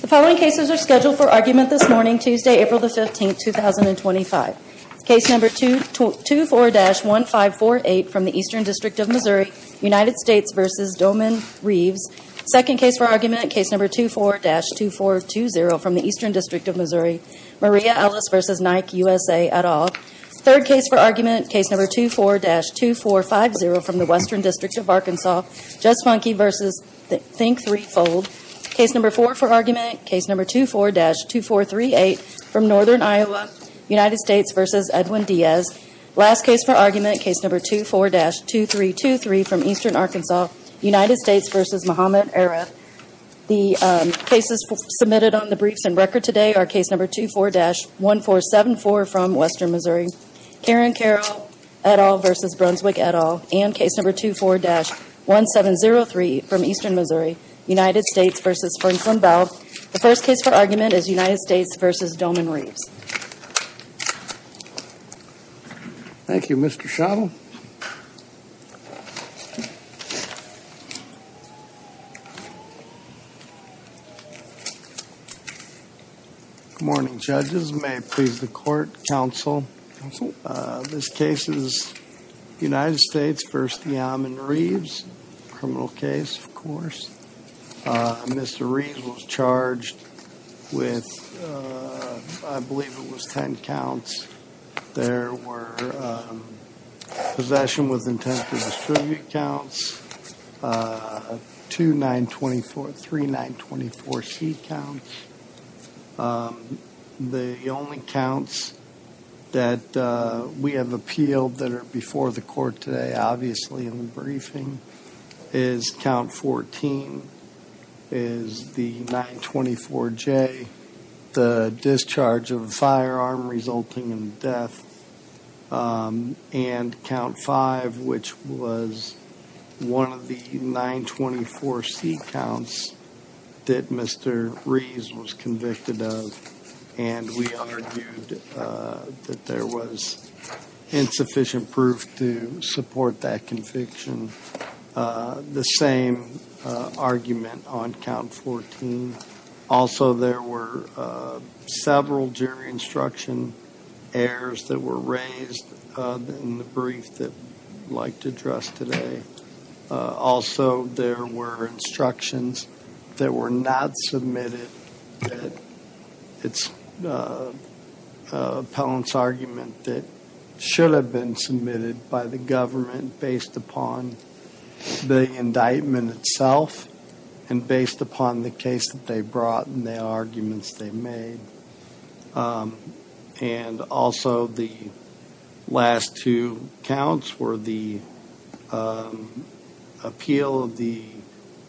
The following cases are scheduled for argument this morning, Tuesday, April 15, 2025. Case number 24-1548 from the Eastern District of Missouri, United States v. Deoman Reeves. Second case for argument, case number 24-2420 from the Eastern District of Missouri, Maria Ellis v. Nike, USA, et al. Third case for argument, case number 24-2450 from the Western District of Arkansas, Judge Funke v. Think Three Fold. Case number four for argument, case number 24-2438 from Northern Iowa, United States v. Edwin Diaz. Last case for argument, case number 24-2323 from Eastern Arkansas, United States v. Mohamed Aref. The cases submitted on the briefs and record today are case number 24-1474 from Western Missouri, Karen Carroll et al. v. Brunswick et al. and case number 24-1703 from Eastern Missouri, United States v. Frensland Bell. The first case for argument is United States v. Deoman Reeves. Thank you, Mr. Schottel. Good morning, judges. May it please the court, counsel. Counsel. This case is United States v. Deoman Reeves, criminal case, of course. Mr. Reeves was charged with, I believe it was ten counts. There were possession with intent to distribute counts, two 924, three 924C counts. The only counts that we have appealed that are before the court today, obviously in the briefing, is count 14, is the 924J, the discharge of a firearm resulting in death, and count five, which was one of the 924C counts that Mr. Reeves was convicted of. And we argued that there was insufficient proof to support that conviction. The same argument on count 14. Also, there were several jury instruction errors that were raised in the brief that I'd like to address today. Also, there were instructions that were not submitted that it's an appellant's argument that should have been submitted by the government based upon the indictment itself and based upon the case that they brought and the arguments they made. And also, the last two counts were the appeal of the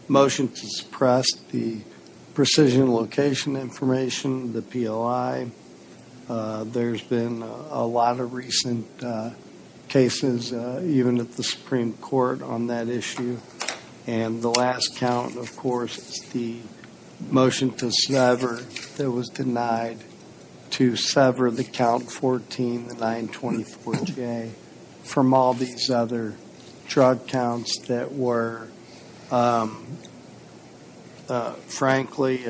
motion to suppress the precision location information, the PLI. There's been a lot of recent cases, even at the Supreme Court, on that issue. And the last count, of course, is the motion to sever that was denied to sever the count 14, the 924J, from all these other drug counts that were, frankly,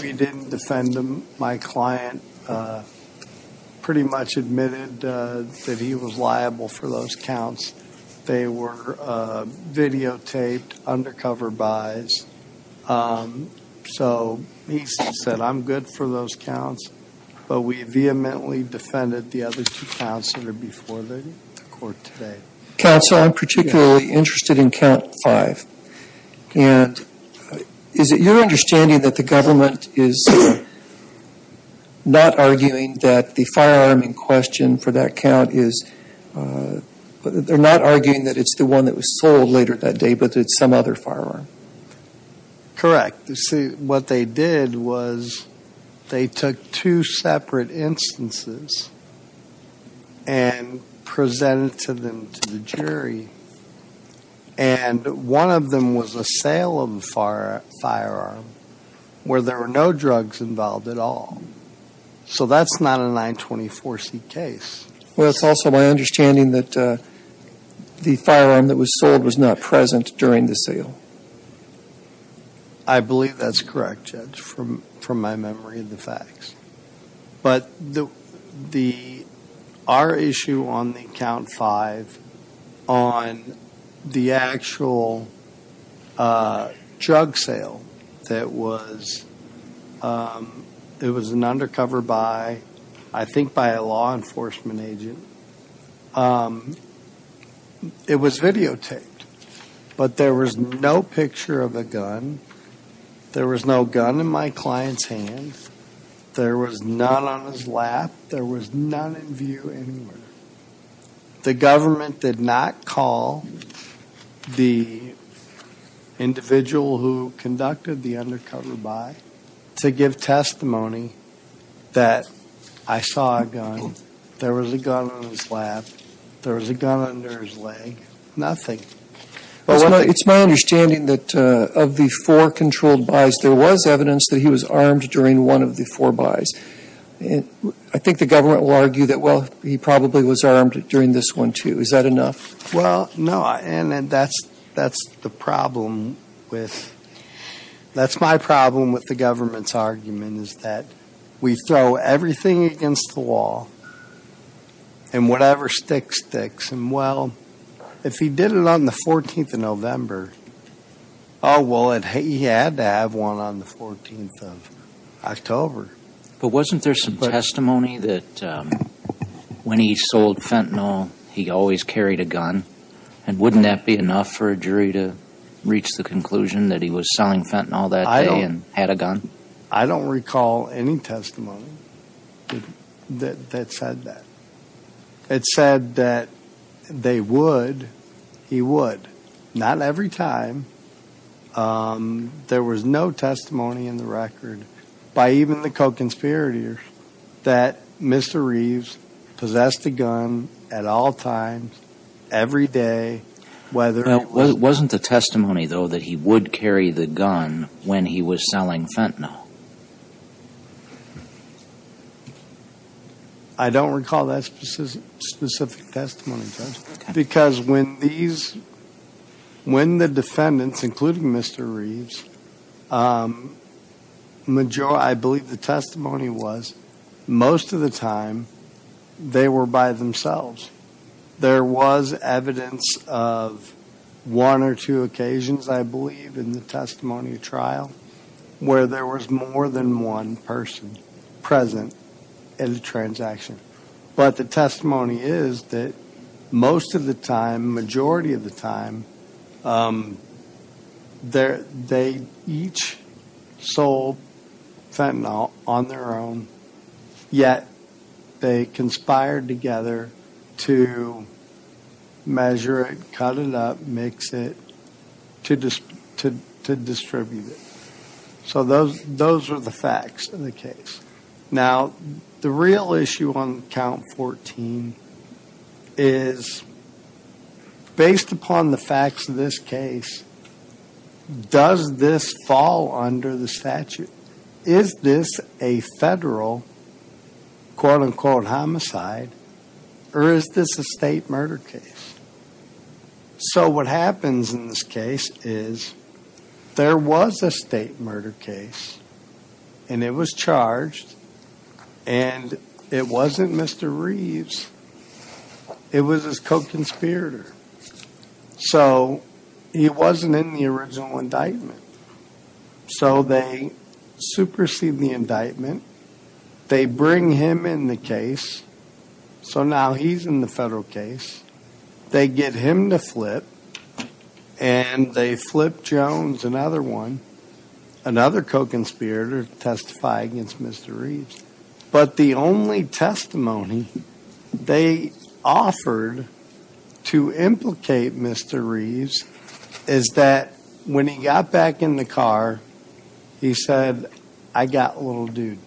we didn't defend them. My client pretty much admitted that he was liable for those counts. They were videotaped, undercover buys. So he said, I'm good for those counts. But we vehemently defended the other two counts that are before the court today. Counsel, I'm particularly interested in count five. And is it your understanding that the government is not arguing that the firearm in question for that count is they're not arguing that it's the one that was sold later that day, but it's some other firearm? You see, what they did was they took two separate instances and presented them to the jury. And one of them was a Salem firearm where there were no drugs involved at all. So that's not a 924C case. Well, it's also my understanding that the firearm that was sold was not present during the sale. I believe that's correct, Judge, from my memory of the facts. But our issue on the count five, on the actual drug sale that was an undercover buy, I think by a law enforcement agent, it was videotaped. But there was no picture of a gun. There was no gun in my client's hand. There was none on his lap. There was none in view anywhere. The government did not call the individual who conducted the undercover buy to give testimony that I saw a gun. There was a gun on his lap. There was a gun under his leg. Nothing. It's my understanding that of the four controlled buys, there was evidence that he was armed during one of the four buys. I think the government will argue that, well, he probably was armed during this one, too. Is that enough? Well, no. And that's the problem with – that's my problem with the government's argument is that we throw everything against the wall and whatever stick sticks. And, well, if he did it on the 14th of November, oh, well, he had to have one on the 14th of October. But wasn't there some testimony that when he sold fentanyl, he always carried a gun? And wouldn't that be enough for a jury to reach the conclusion that he was selling fentanyl that day and had a gun? I don't recall any testimony that said that. It said that they would. He would. Not every time. There was no testimony in the record by even the co-conspirators that Mr. Reeves possessed a gun at all times, every day, whether – Well, wasn't the testimony, though, that he would carry the gun when he was selling fentanyl? I don't recall that specific testimony. Because when these – when the defendants, including Mr. Reeves, I believe the testimony was most of the time they were by themselves. There was evidence of one or two occasions, I believe, in the testimony trial where there was more than one person present in the transaction. But the testimony is that most of the time, majority of the time, they each sold fentanyl on their own, yet they conspired together to measure it, cut it up, mix it, to distribute it. So those are the facts in the case. Now, the real issue on Count 14 is, based upon the facts of this case, does this fall under the statute? Is this a federal, quote-unquote, homicide, or is this a state murder case? So what happens in this case is there was a state murder case, and it was charged, and it wasn't Mr. Reeves. It was his co-conspirator. So he wasn't in the original indictment. So they supersede the indictment. They bring him in the case. So now he's in the federal case. They get him to flip, and they flip Jones, another one, another co-conspirator to testify against Mr. Reeves. But the only testimony they offered to implicate Mr. Reeves is that when he got back in the car, he said, I got a little dude.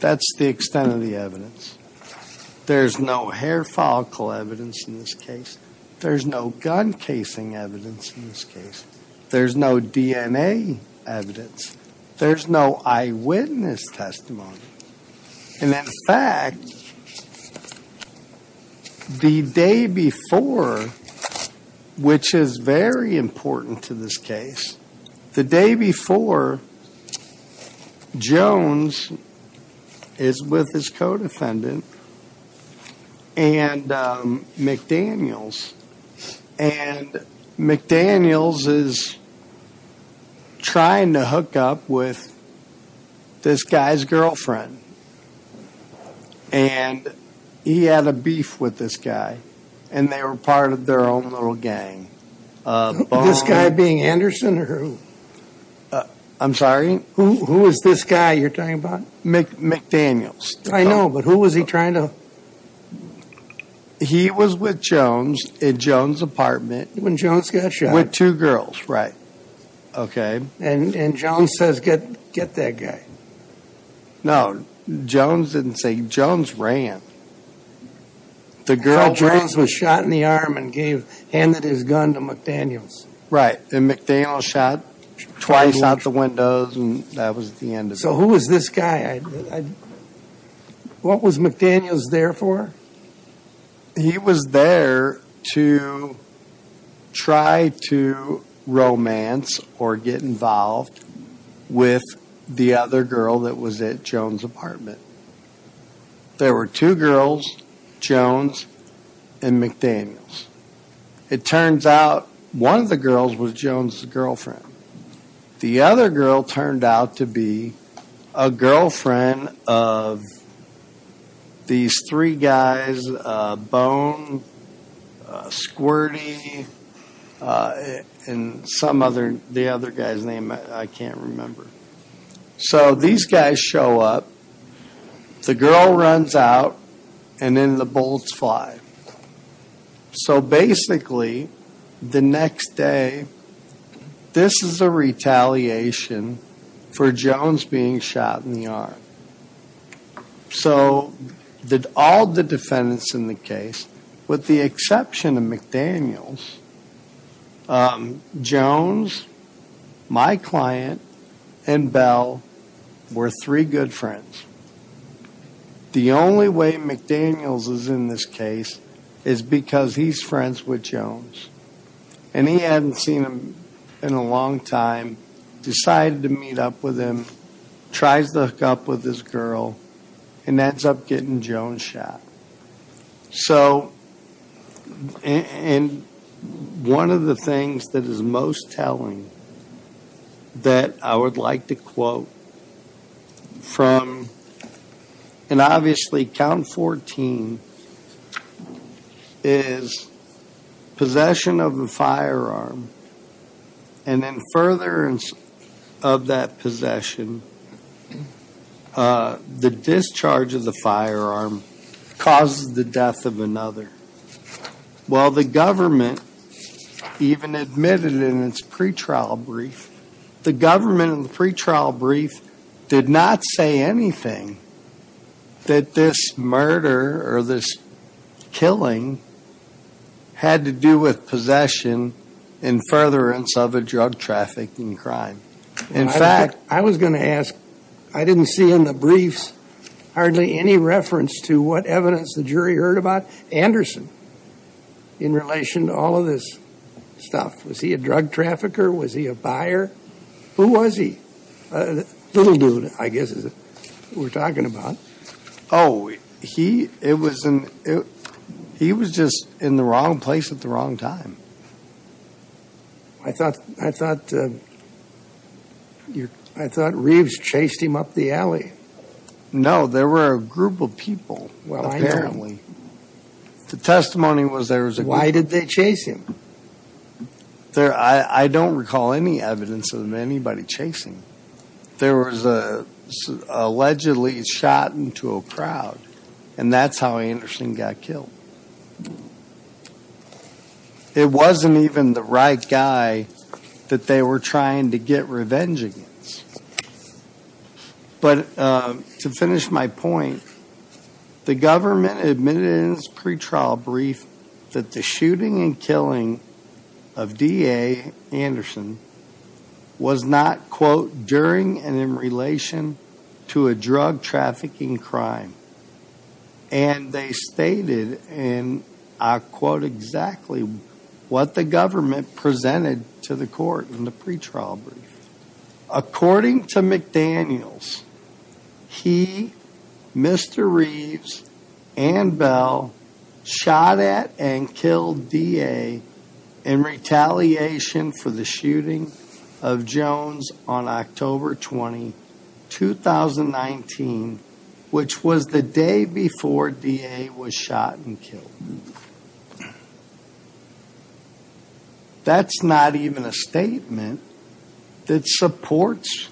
That's the extent of the evidence. There's no hair follicle evidence in this case. There's no gun casing evidence in this case. There's no DNA evidence. There's no eyewitness testimony. And in fact, the day before, which is very important to this case, the day before, Jones is with his co-defendant and McDaniels. And McDaniels is trying to hook up with this guy's girlfriend. And he had a beef with this guy, and they were part of their own little gang. This guy being Anderson or who? I'm sorry? Who is this guy you're talking about? McDaniels. I know, but who was he trying to? He was with Jones in Jones' apartment. When Jones got shot. With two girls. Okay. And Jones says, get that guy. No, Jones didn't say. Jones ran. I thought Jones was shot in the arm and handed his gun to McDaniels. Right. And McDaniels shot twice out the windows, and that was the end of it. So who was this guy? What was McDaniels there for? He was there to try to romance or get involved with the other girl that was at Jones' apartment. There were two girls, Jones and McDaniels. It turns out one of the girls was Jones' girlfriend. The other girl turned out to be a girlfriend of these three guys, Bone, Squirty, and some other, the other guy's name, I can't remember. So these guys show up. The girl runs out, and then the bullets fly. So basically, the next day, this is a retaliation for Jones being shot in the arm. So all the defendants in the case, with the exception of McDaniels, Jones, my client, and Bell were three good friends. The only way McDaniels is in this case is because he's friends with Jones. And he hadn't seen him in a long time, decided to meet up with him, tries to hook up with this girl, and ends up getting Jones shot. So, and one of the things that is most telling that I would like to quote from, and obviously, is possession of a firearm, and in furtherance of that possession, the discharge of the firearm causes the death of another. Well, the government even admitted in its pretrial brief, the government in the pretrial brief did not say anything that this murder or this killing had to do with possession in furtherance of a drug trafficking crime. In fact, I was going to ask, I didn't see in the briefs hardly any reference to what evidence the jury heard about Anderson in relation to all of this stuff. Was he a drug trafficker? Was he a buyer? Who was he? Little dude, I guess is what we're talking about. Oh, he was just in the wrong place at the wrong time. I thought Reeves chased him up the alley. No, there were a group of people, apparently. Why did they chase him? I don't recall any evidence of anybody chasing him. There was allegedly shot into a crowd, and that's how Anderson got killed. It wasn't even the right guy that they were trying to get revenge against. But to finish my point, the government admitted in its pretrial brief that the shooting and killing of DA Anderson was not, quote, during and in relation to a drug trafficking crime. And they stated, and I quote exactly what the government presented to the court in the pretrial brief. According to McDaniels, he, Mr. Reeves, and Bell shot at and killed DA in retaliation for the shooting of Jones on October 20, 2019, which was the day before DA was shot and killed. That's not even a statement that supports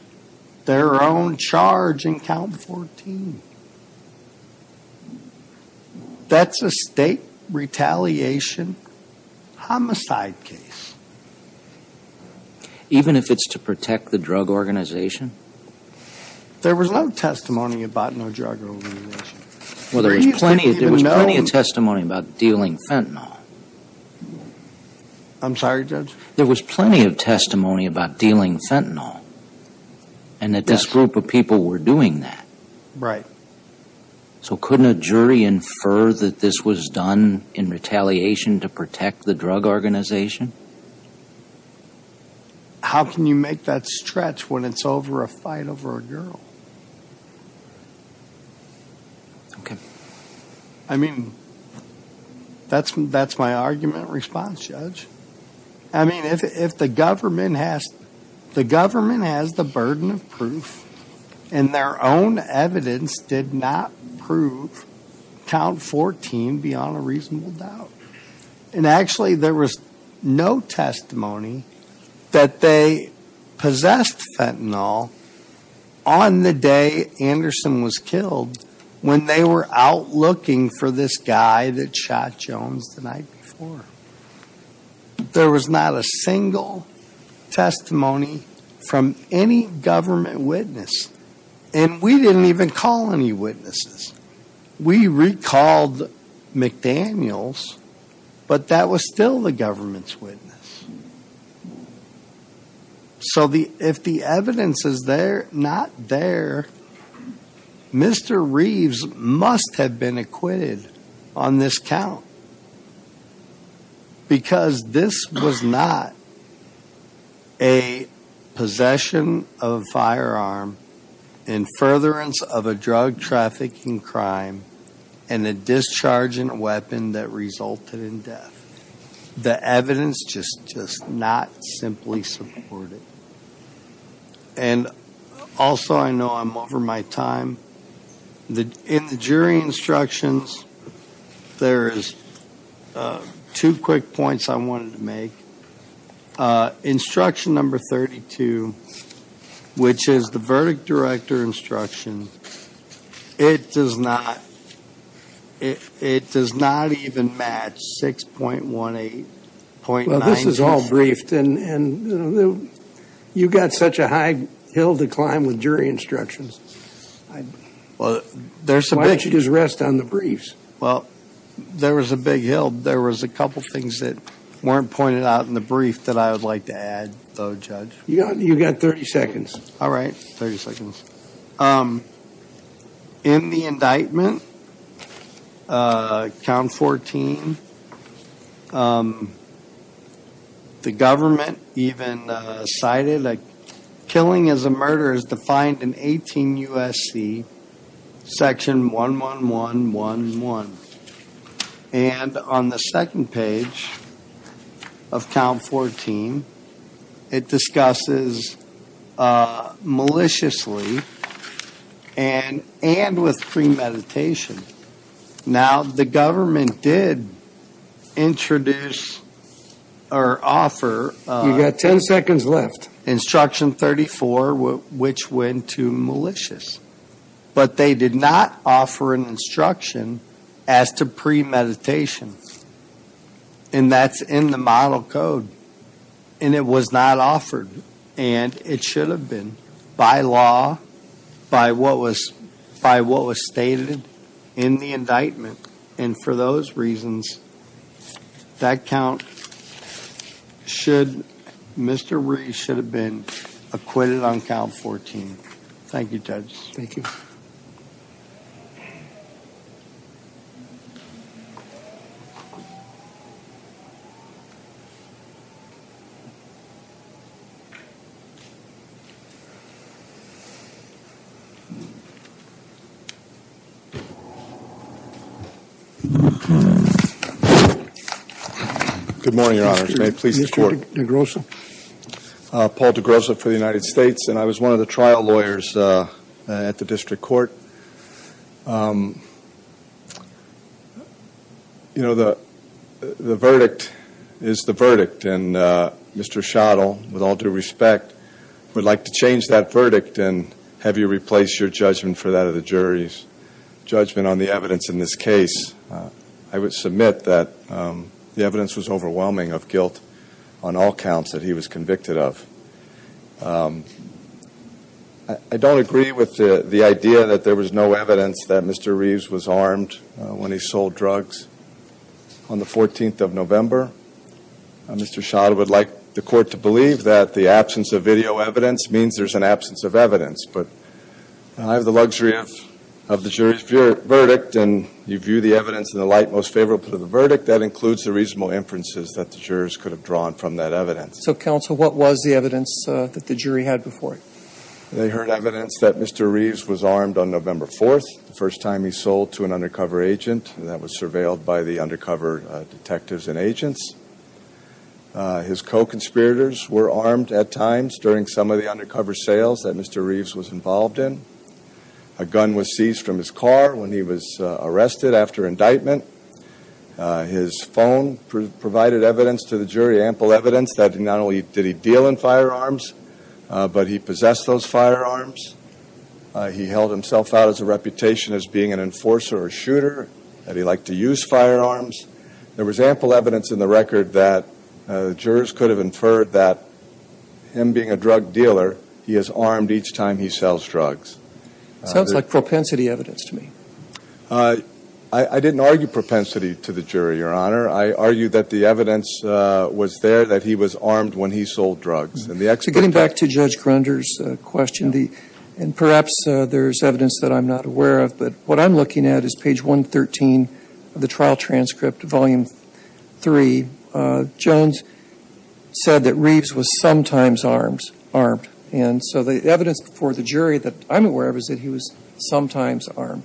their own charge in count 14. That's a state retaliation homicide case. Even if it's to protect the drug organization? There was no testimony about no drug organization. Well, there was plenty of testimony about dealing fentanyl. I'm sorry, judge. There was plenty of testimony about dealing fentanyl. And that this group of people were doing that. Right. So couldn't a jury infer that this was done in retaliation to protect the drug organization? How can you make that stretch when it's over a fight over a girl? Okay. I mean, that's my argument and response, judge. I mean, if the government has the burden of proof and their own evidence did not prove count 14 beyond a reasonable doubt. And actually, there was no testimony that they possessed fentanyl on the day Anderson was killed when they were out looking for this guy that shot Jones the night before. There was not a single testimony from any government witness. And we didn't even call any witnesses. We recalled McDaniels, but that was still the government's witness. So if the evidence is there, not there, Mr. Reeves must have been acquitted on this count. Because this was not a possession of a firearm in furtherance of a drug trafficking crime and a discharge in a weapon that resulted in death. The evidence just not simply supported. And also I know I'm over my time. In the jury instructions, there is two quick points I wanted to make. Instruction number 32, which is the verdict director instruction, it does not even match 6.18. This is all briefed. And you got such a high hill to climb with jury instructions. Well, there's some. Why don't you just rest on the briefs? Well, there was a big hill. There was a couple of things that weren't pointed out in the brief that I would like to add, though. Judge, you got you got 30 seconds. All right. 30 seconds. In the indictment, count 14. The government even cited killing as a murder is defined in 18 U.S.C. section one, one, one, one, one. And on the second page of count 14, it discusses maliciously and and with premeditation. Now, the government did introduce or offer. You got 10 seconds left. Instruction 34, which went to malicious. But they did not offer an instruction as to premeditation. And that's in the model code. And it was not offered. And it should have been by law, by what was by what was stated in the indictment. And for those reasons, that count should Mr. Ray should have been acquitted on count 14. Thank you, Judge. Thank you. Good morning, Your Honor. May it please the court. Paul DeGrosso for the United States. And I was one of the trial lawyers at the district court. You know, the verdict is the verdict. And Mr. Schottel, with all due respect, would like to change that verdict and have you replace your judgment for that of the jury's judgment on the evidence in this case. I would submit that the evidence was overwhelming of guilt on all counts that he was convicted of. I don't agree with the idea that there was no evidence that Mr. Reeves was armed when he sold drugs on the 14th of November. Mr. Schottel would like the court to believe that the absence of video evidence means there's an absence of evidence. But I have the luxury of the jury's verdict. And you view the evidence in the light most favorable to the verdict. That includes the reasonable inferences that the jurors could have drawn from that evidence. So, counsel, what was the evidence that the jury had before it? They heard evidence that Mr. Reeves was armed on November 4th, the first time he sold to an undercover agent. And that was surveilled by the undercover detectives and agents. His co-conspirators were armed at times during some of the undercover sales that Mr. Reeves was involved in. A gun was seized from his car when he was arrested after indictment. His phone provided evidence to the jury, ample evidence, that not only did he deal in firearms, but he possessed those firearms. He held himself out as a reputation as being an enforcer or shooter, that he liked to use firearms. There was ample evidence in the record that jurors could have inferred that him being a drug dealer, he is armed each time he sells drugs. Sounds like propensity evidence to me. I didn't argue propensity to the jury, Your Honor. I argued that the evidence was there that he was armed when he sold drugs. Getting back to Judge Grunder's question, and perhaps there's evidence that I'm not aware of, but what I'm looking at is page 113 of the trial transcript, volume 3. Jones said that Reeves was sometimes armed. And so the evidence for the jury that I'm aware of is that he was sometimes armed.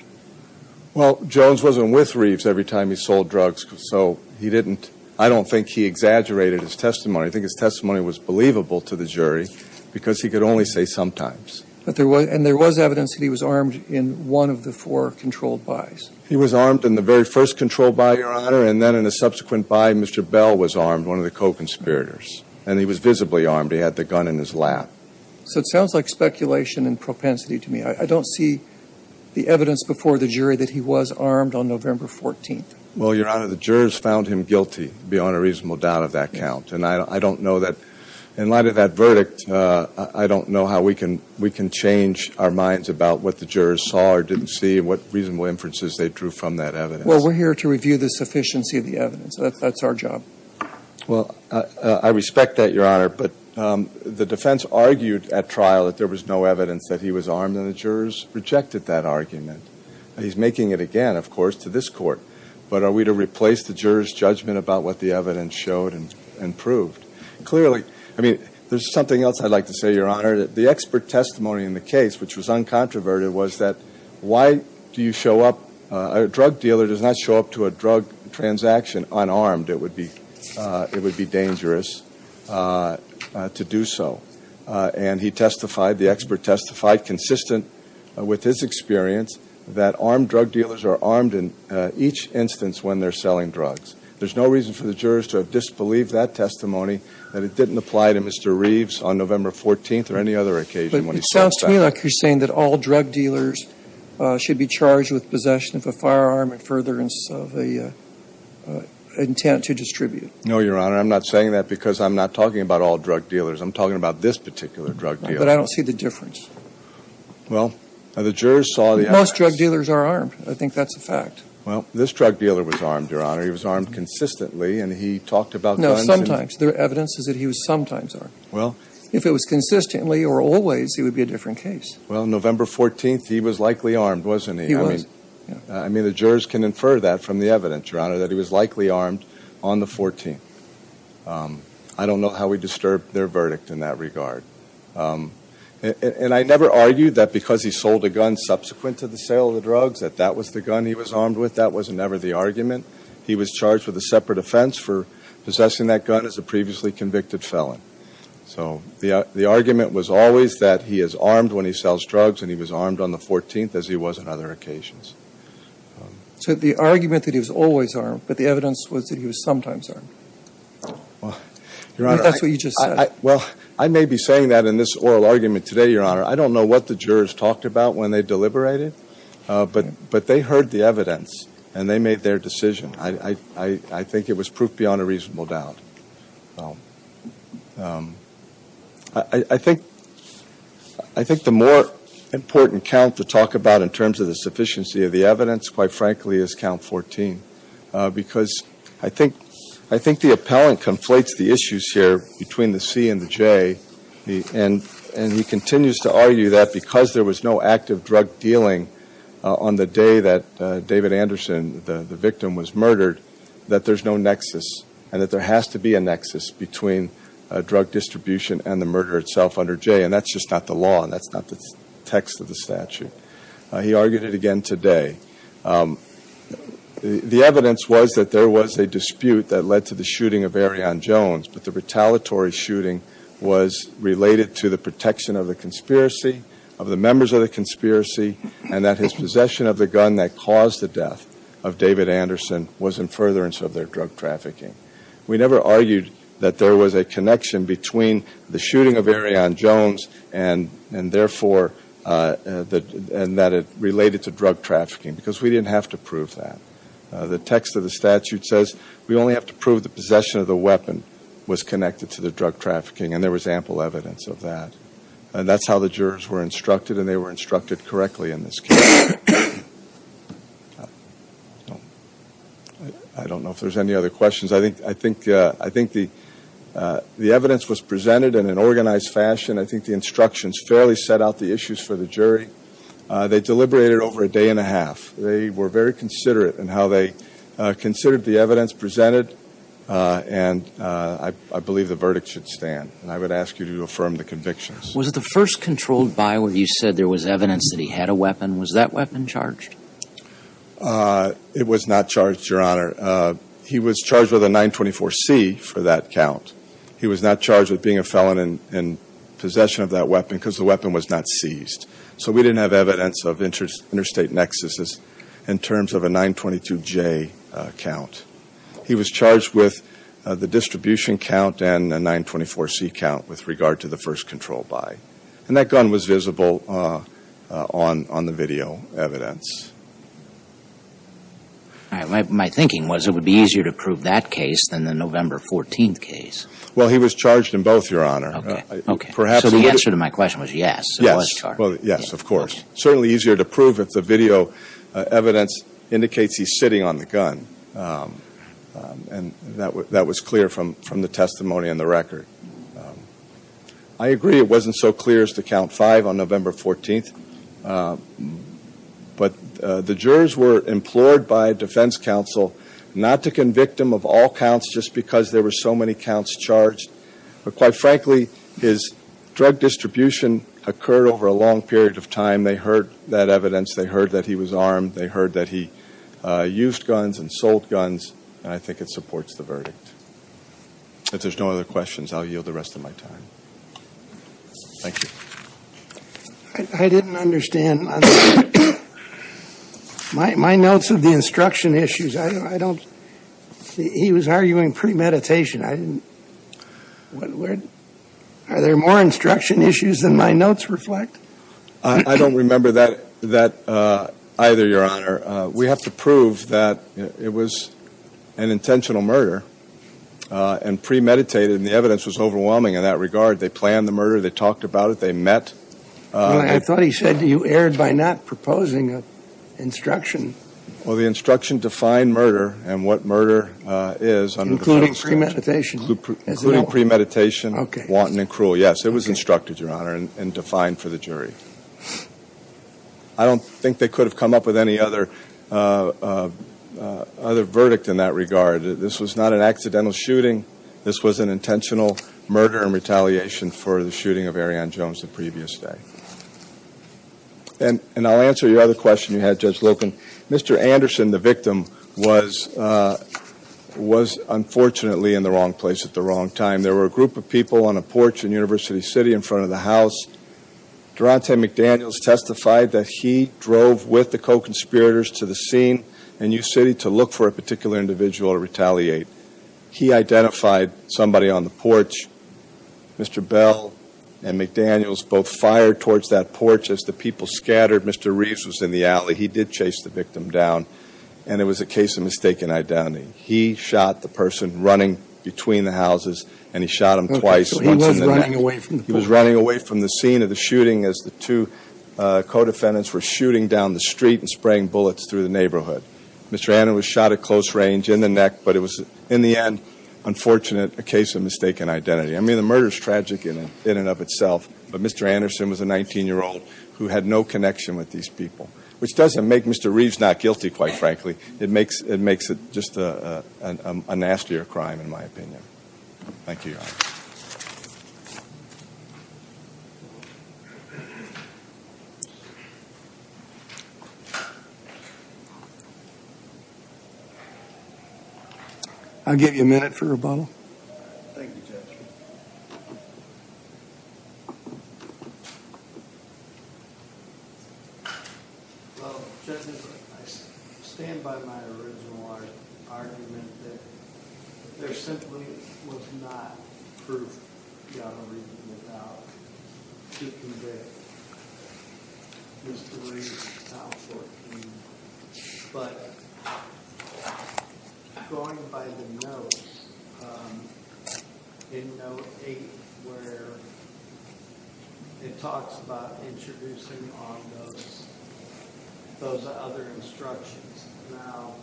Well, Jones wasn't with Reeves every time he sold drugs, so he didn't, I don't think he exaggerated his testimony. I think his testimony was believable to the jury because he could only say sometimes. And there was evidence that he was armed in one of the four controlled buys. He was armed in the very first controlled buy, Your Honor, and then in a subsequent buy, Mr. Bell was armed, one of the co-conspirators. And he was visibly armed. He had the gun in his lap. So it sounds like speculation and propensity to me. I don't see the evidence before the jury that he was armed on November 14th. Well, Your Honor, the jurors found him guilty beyond a reasonable doubt of that count. And I don't know that, in light of that verdict, I don't know how we can change our minds about what the jurors saw or didn't see, what reasonable inferences they drew from that evidence. Well, we're here to review the sufficiency of the evidence. That's our job. Well, I respect that, Your Honor. But the defense argued at trial that there was no evidence that he was armed, and the jurors rejected that argument. He's making it again, of course, to this Court. But are we to replace the jurors' judgment about what the evidence showed and proved? Clearly, I mean, there's something else I'd like to say, Your Honor. The expert testimony in the case, which was uncontroverted, was that why do you show up – a drug dealer does not show up to a drug transaction unarmed. It would be dangerous to do so. And he testified, the expert testified, consistent with his experience, that armed drug dealers are armed in each instance when they're selling drugs. There's no reason for the jurors to have disbelieved that testimony, that it didn't apply to Mr. Reeves on November 14th or any other occasion when he saw himself. But it sounds to me like you're saying that all drug dealers should be charged with possession of a firearm at furtherance of the intent to distribute. No, Your Honor. I'm not saying that because I'm not talking about all drug dealers. I'm talking about this particular drug dealer. But I don't see the difference. Well, the jurors saw the evidence. Most drug dealers are armed. I think that's a fact. Well, this drug dealer was armed, Your Honor. He was armed consistently, and he talked about guns. No, sometimes. The evidence is that he was sometimes armed. Well. If it was consistently or always, he would be a different case. Well, November 14th, he was likely armed, wasn't he? He was. I mean, the jurors can infer that from the evidence, Your Honor, that he was likely armed on the 14th. I don't know how we disturb their verdict in that regard. And I never argued that because he sold a gun subsequent to the sale of the drugs, that that was the gun he was armed with. That was never the argument. He was charged with a separate offense for possessing that gun as a previously convicted felon. So the argument was always that he is armed when he sells drugs, and he was armed on the 14th as he was on other occasions. So the argument that he was always armed, but the evidence was that he was sometimes armed. Well, Your Honor. That's what you just said. Well, I may be saying that in this oral argument today, Your Honor. I don't know what the jurors talked about when they deliberated, but they heard the evidence, and they made their decision. I think it was proof beyond a reasonable doubt. I think the more important count to talk about in terms of the sufficiency of the evidence, quite frankly, is count 14. Because I think the appellant conflates the issues here between the C and the J, and he continues to argue that because there was no active drug dealing on the day that David Anderson, the victim, was murdered, that there's no nexus, and that there has to be a nexus between drug distribution and the murder itself under J. And that's just not the law, and that's not the text of the statute. He argued it again today. The evidence was that there was a dispute that led to the shooting of Arion Jones, but the retaliatory shooting was related to the protection of the conspiracy, of the members of the conspiracy, and that his possession of the gun that caused the death of David Anderson was in furtherance of their drug trafficking. We never argued that there was a connection between the shooting of Arion Jones and therefore that it related to drug trafficking because we didn't have to prove that. The text of the statute says we only have to prove the possession of the weapon was connected to the drug trafficking, and there was ample evidence of that. And that's how the jurors were instructed, and they were instructed correctly in this case. I don't know if there's any other questions. I think the evidence was presented in an organized fashion. I think the instructions fairly set out the issues for the jury. They deliberated over a day and a half. They were very considerate in how they considered the evidence presented, and I believe the verdict should stand, and I would ask you to affirm the convictions. Was it the first controlled by where you said there was evidence that he had a weapon? Was that weapon charged? It was not charged, Your Honor. He was charged with a 924C for that count. He was not charged with being a felon in possession of that weapon because the weapon was not seized. So we didn't have evidence of interstate nexuses in terms of a 922J count. He was charged with the distribution count and a 924C count with regard to the first controlled by, and that gun was visible on the video evidence. All right. My thinking was it would be easier to prove that case than the November 14th case. Well, he was charged in both, Your Honor. Okay. So the answer to my question was yes, it was charged. Yes, of course. Certainly easier to prove if the video evidence indicates he's sitting on the gun, and that was clear from the testimony and the record. I agree it wasn't so clear as to count five on November 14th, but the jurors were implored by defense counsel not to convict him of all counts just because there were so many counts charged. But quite frankly, his drug distribution occurred over a long period of time. They heard that evidence. They heard that he was armed. They heard that he used guns and sold guns, and I think it supports the verdict. If there's no other questions, I'll yield the rest of my time. Thank you. I didn't understand. My notes of the instruction issues, I don't see. He was arguing premeditation. Are there more instruction issues than my notes reflect? I don't remember that either, Your Honor. We have to prove that it was an intentional murder and premeditated, and the evidence was overwhelming in that regard. They planned the murder. They talked about it. They met. I thought he said you erred by not proposing an instruction. Well, the instruction defined murder and what murder is. Including premeditation. Including premeditation, wanton and cruel. Yes, it was instructed, Your Honor, and defined for the jury. I don't think they could have come up with any other verdict in that regard. This was not an accidental shooting. This was an intentional murder and retaliation for the shooting of Arianne Jones the previous day. And I'll answer your other question you had, Judge Loken. Mr. Anderson, the victim, was unfortunately in the wrong place at the wrong time. There were a group of people on a porch in University City in front of the house. Durante McDaniels testified that he drove with the co-conspirators to the scene and used City to look for a particular individual to retaliate. He identified somebody on the porch. Mr. Bell and McDaniels both fired towards that porch as the people scattered. Mr. Reeves was in the alley. He did chase the victim down, and it was a case of mistaken identity. He shot the person running between the houses, and he shot him twice, once in the neck. He was running away from the scene of the shooting as the two co-defendants were shooting down the street and spraying bullets through the neighborhood. Mr. Anderson was shot at close range in the neck, but it was, in the end, unfortunate, a case of mistaken identity. I mean, the murder is tragic in and of itself, but Mr. Anderson was a 19-year-old who had no connection with these people, which doesn't make Mr. Reeves not guilty, quite frankly. It makes it just a nastier crime, in my opinion. Thank you. Thank you. I'll give you a minute for rebuttal. Thank you, Judge. Well, Judge, I stand by my original argument that there simply was not proof you ought to be reading about to convict Mr. Reeves in 2014. But going by the notes, in note 8, where it talks about introducing on those other instructions. Now,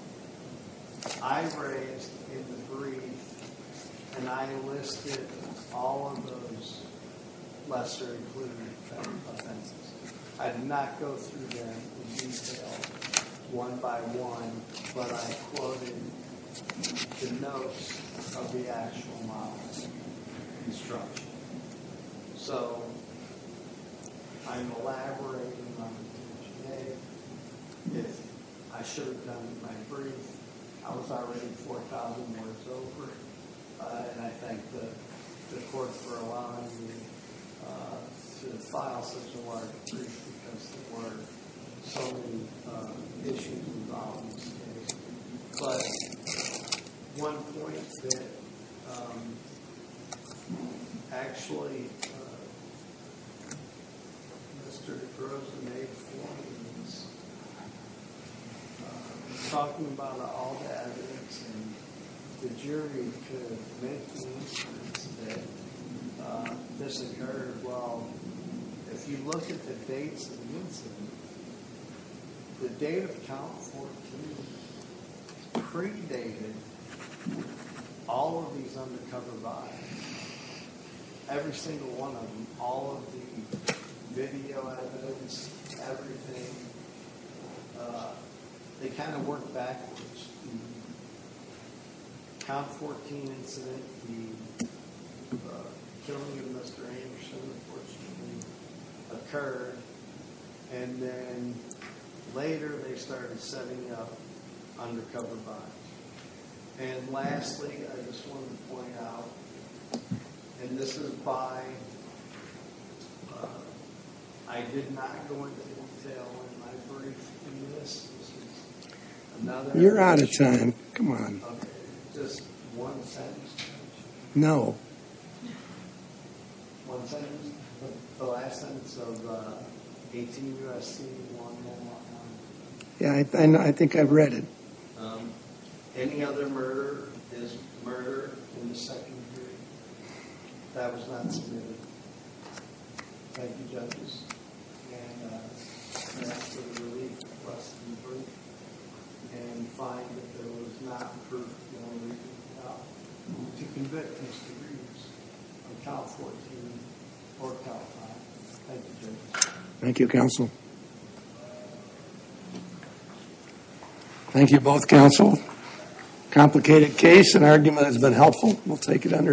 I raised in the brief, and I listed all of those lesser-included offenses. I did not go through them in detail one by one, but I quoted the notes of the actual model instruction. So I'm elaborating on the intention A. If I should have done it in my brief, I was already 4,000 words over, and I thank the court for allowing me to file such a large brief, because there were so many issues involved in this case. But one point that actually Mr. Groves made for me was talking about all the evidence, and the jury could make the instance that this occurred. Well, if you look at the dates of the incident, the date of count 14 predated all of these undercover bodies, every single one of them, all of the video evidence, everything. They kind of worked backwards. The count 14 incident, the killing of Mr. Anderson, unfortunately, occurred, and then later they started setting up undercover bodies. And lastly, I just wanted to point out, and this is by, I did not go into detail in my brief in this. You're out of time. Come on. No. Yeah, I think I've read it. And find that there was not proof to convict Mr. Groves of count 14 or count 5. Thank you, Judge. Thank you, counsel. Thank you both, counsel. Complicated case, an argument has been helpful. We'll take it under advisement.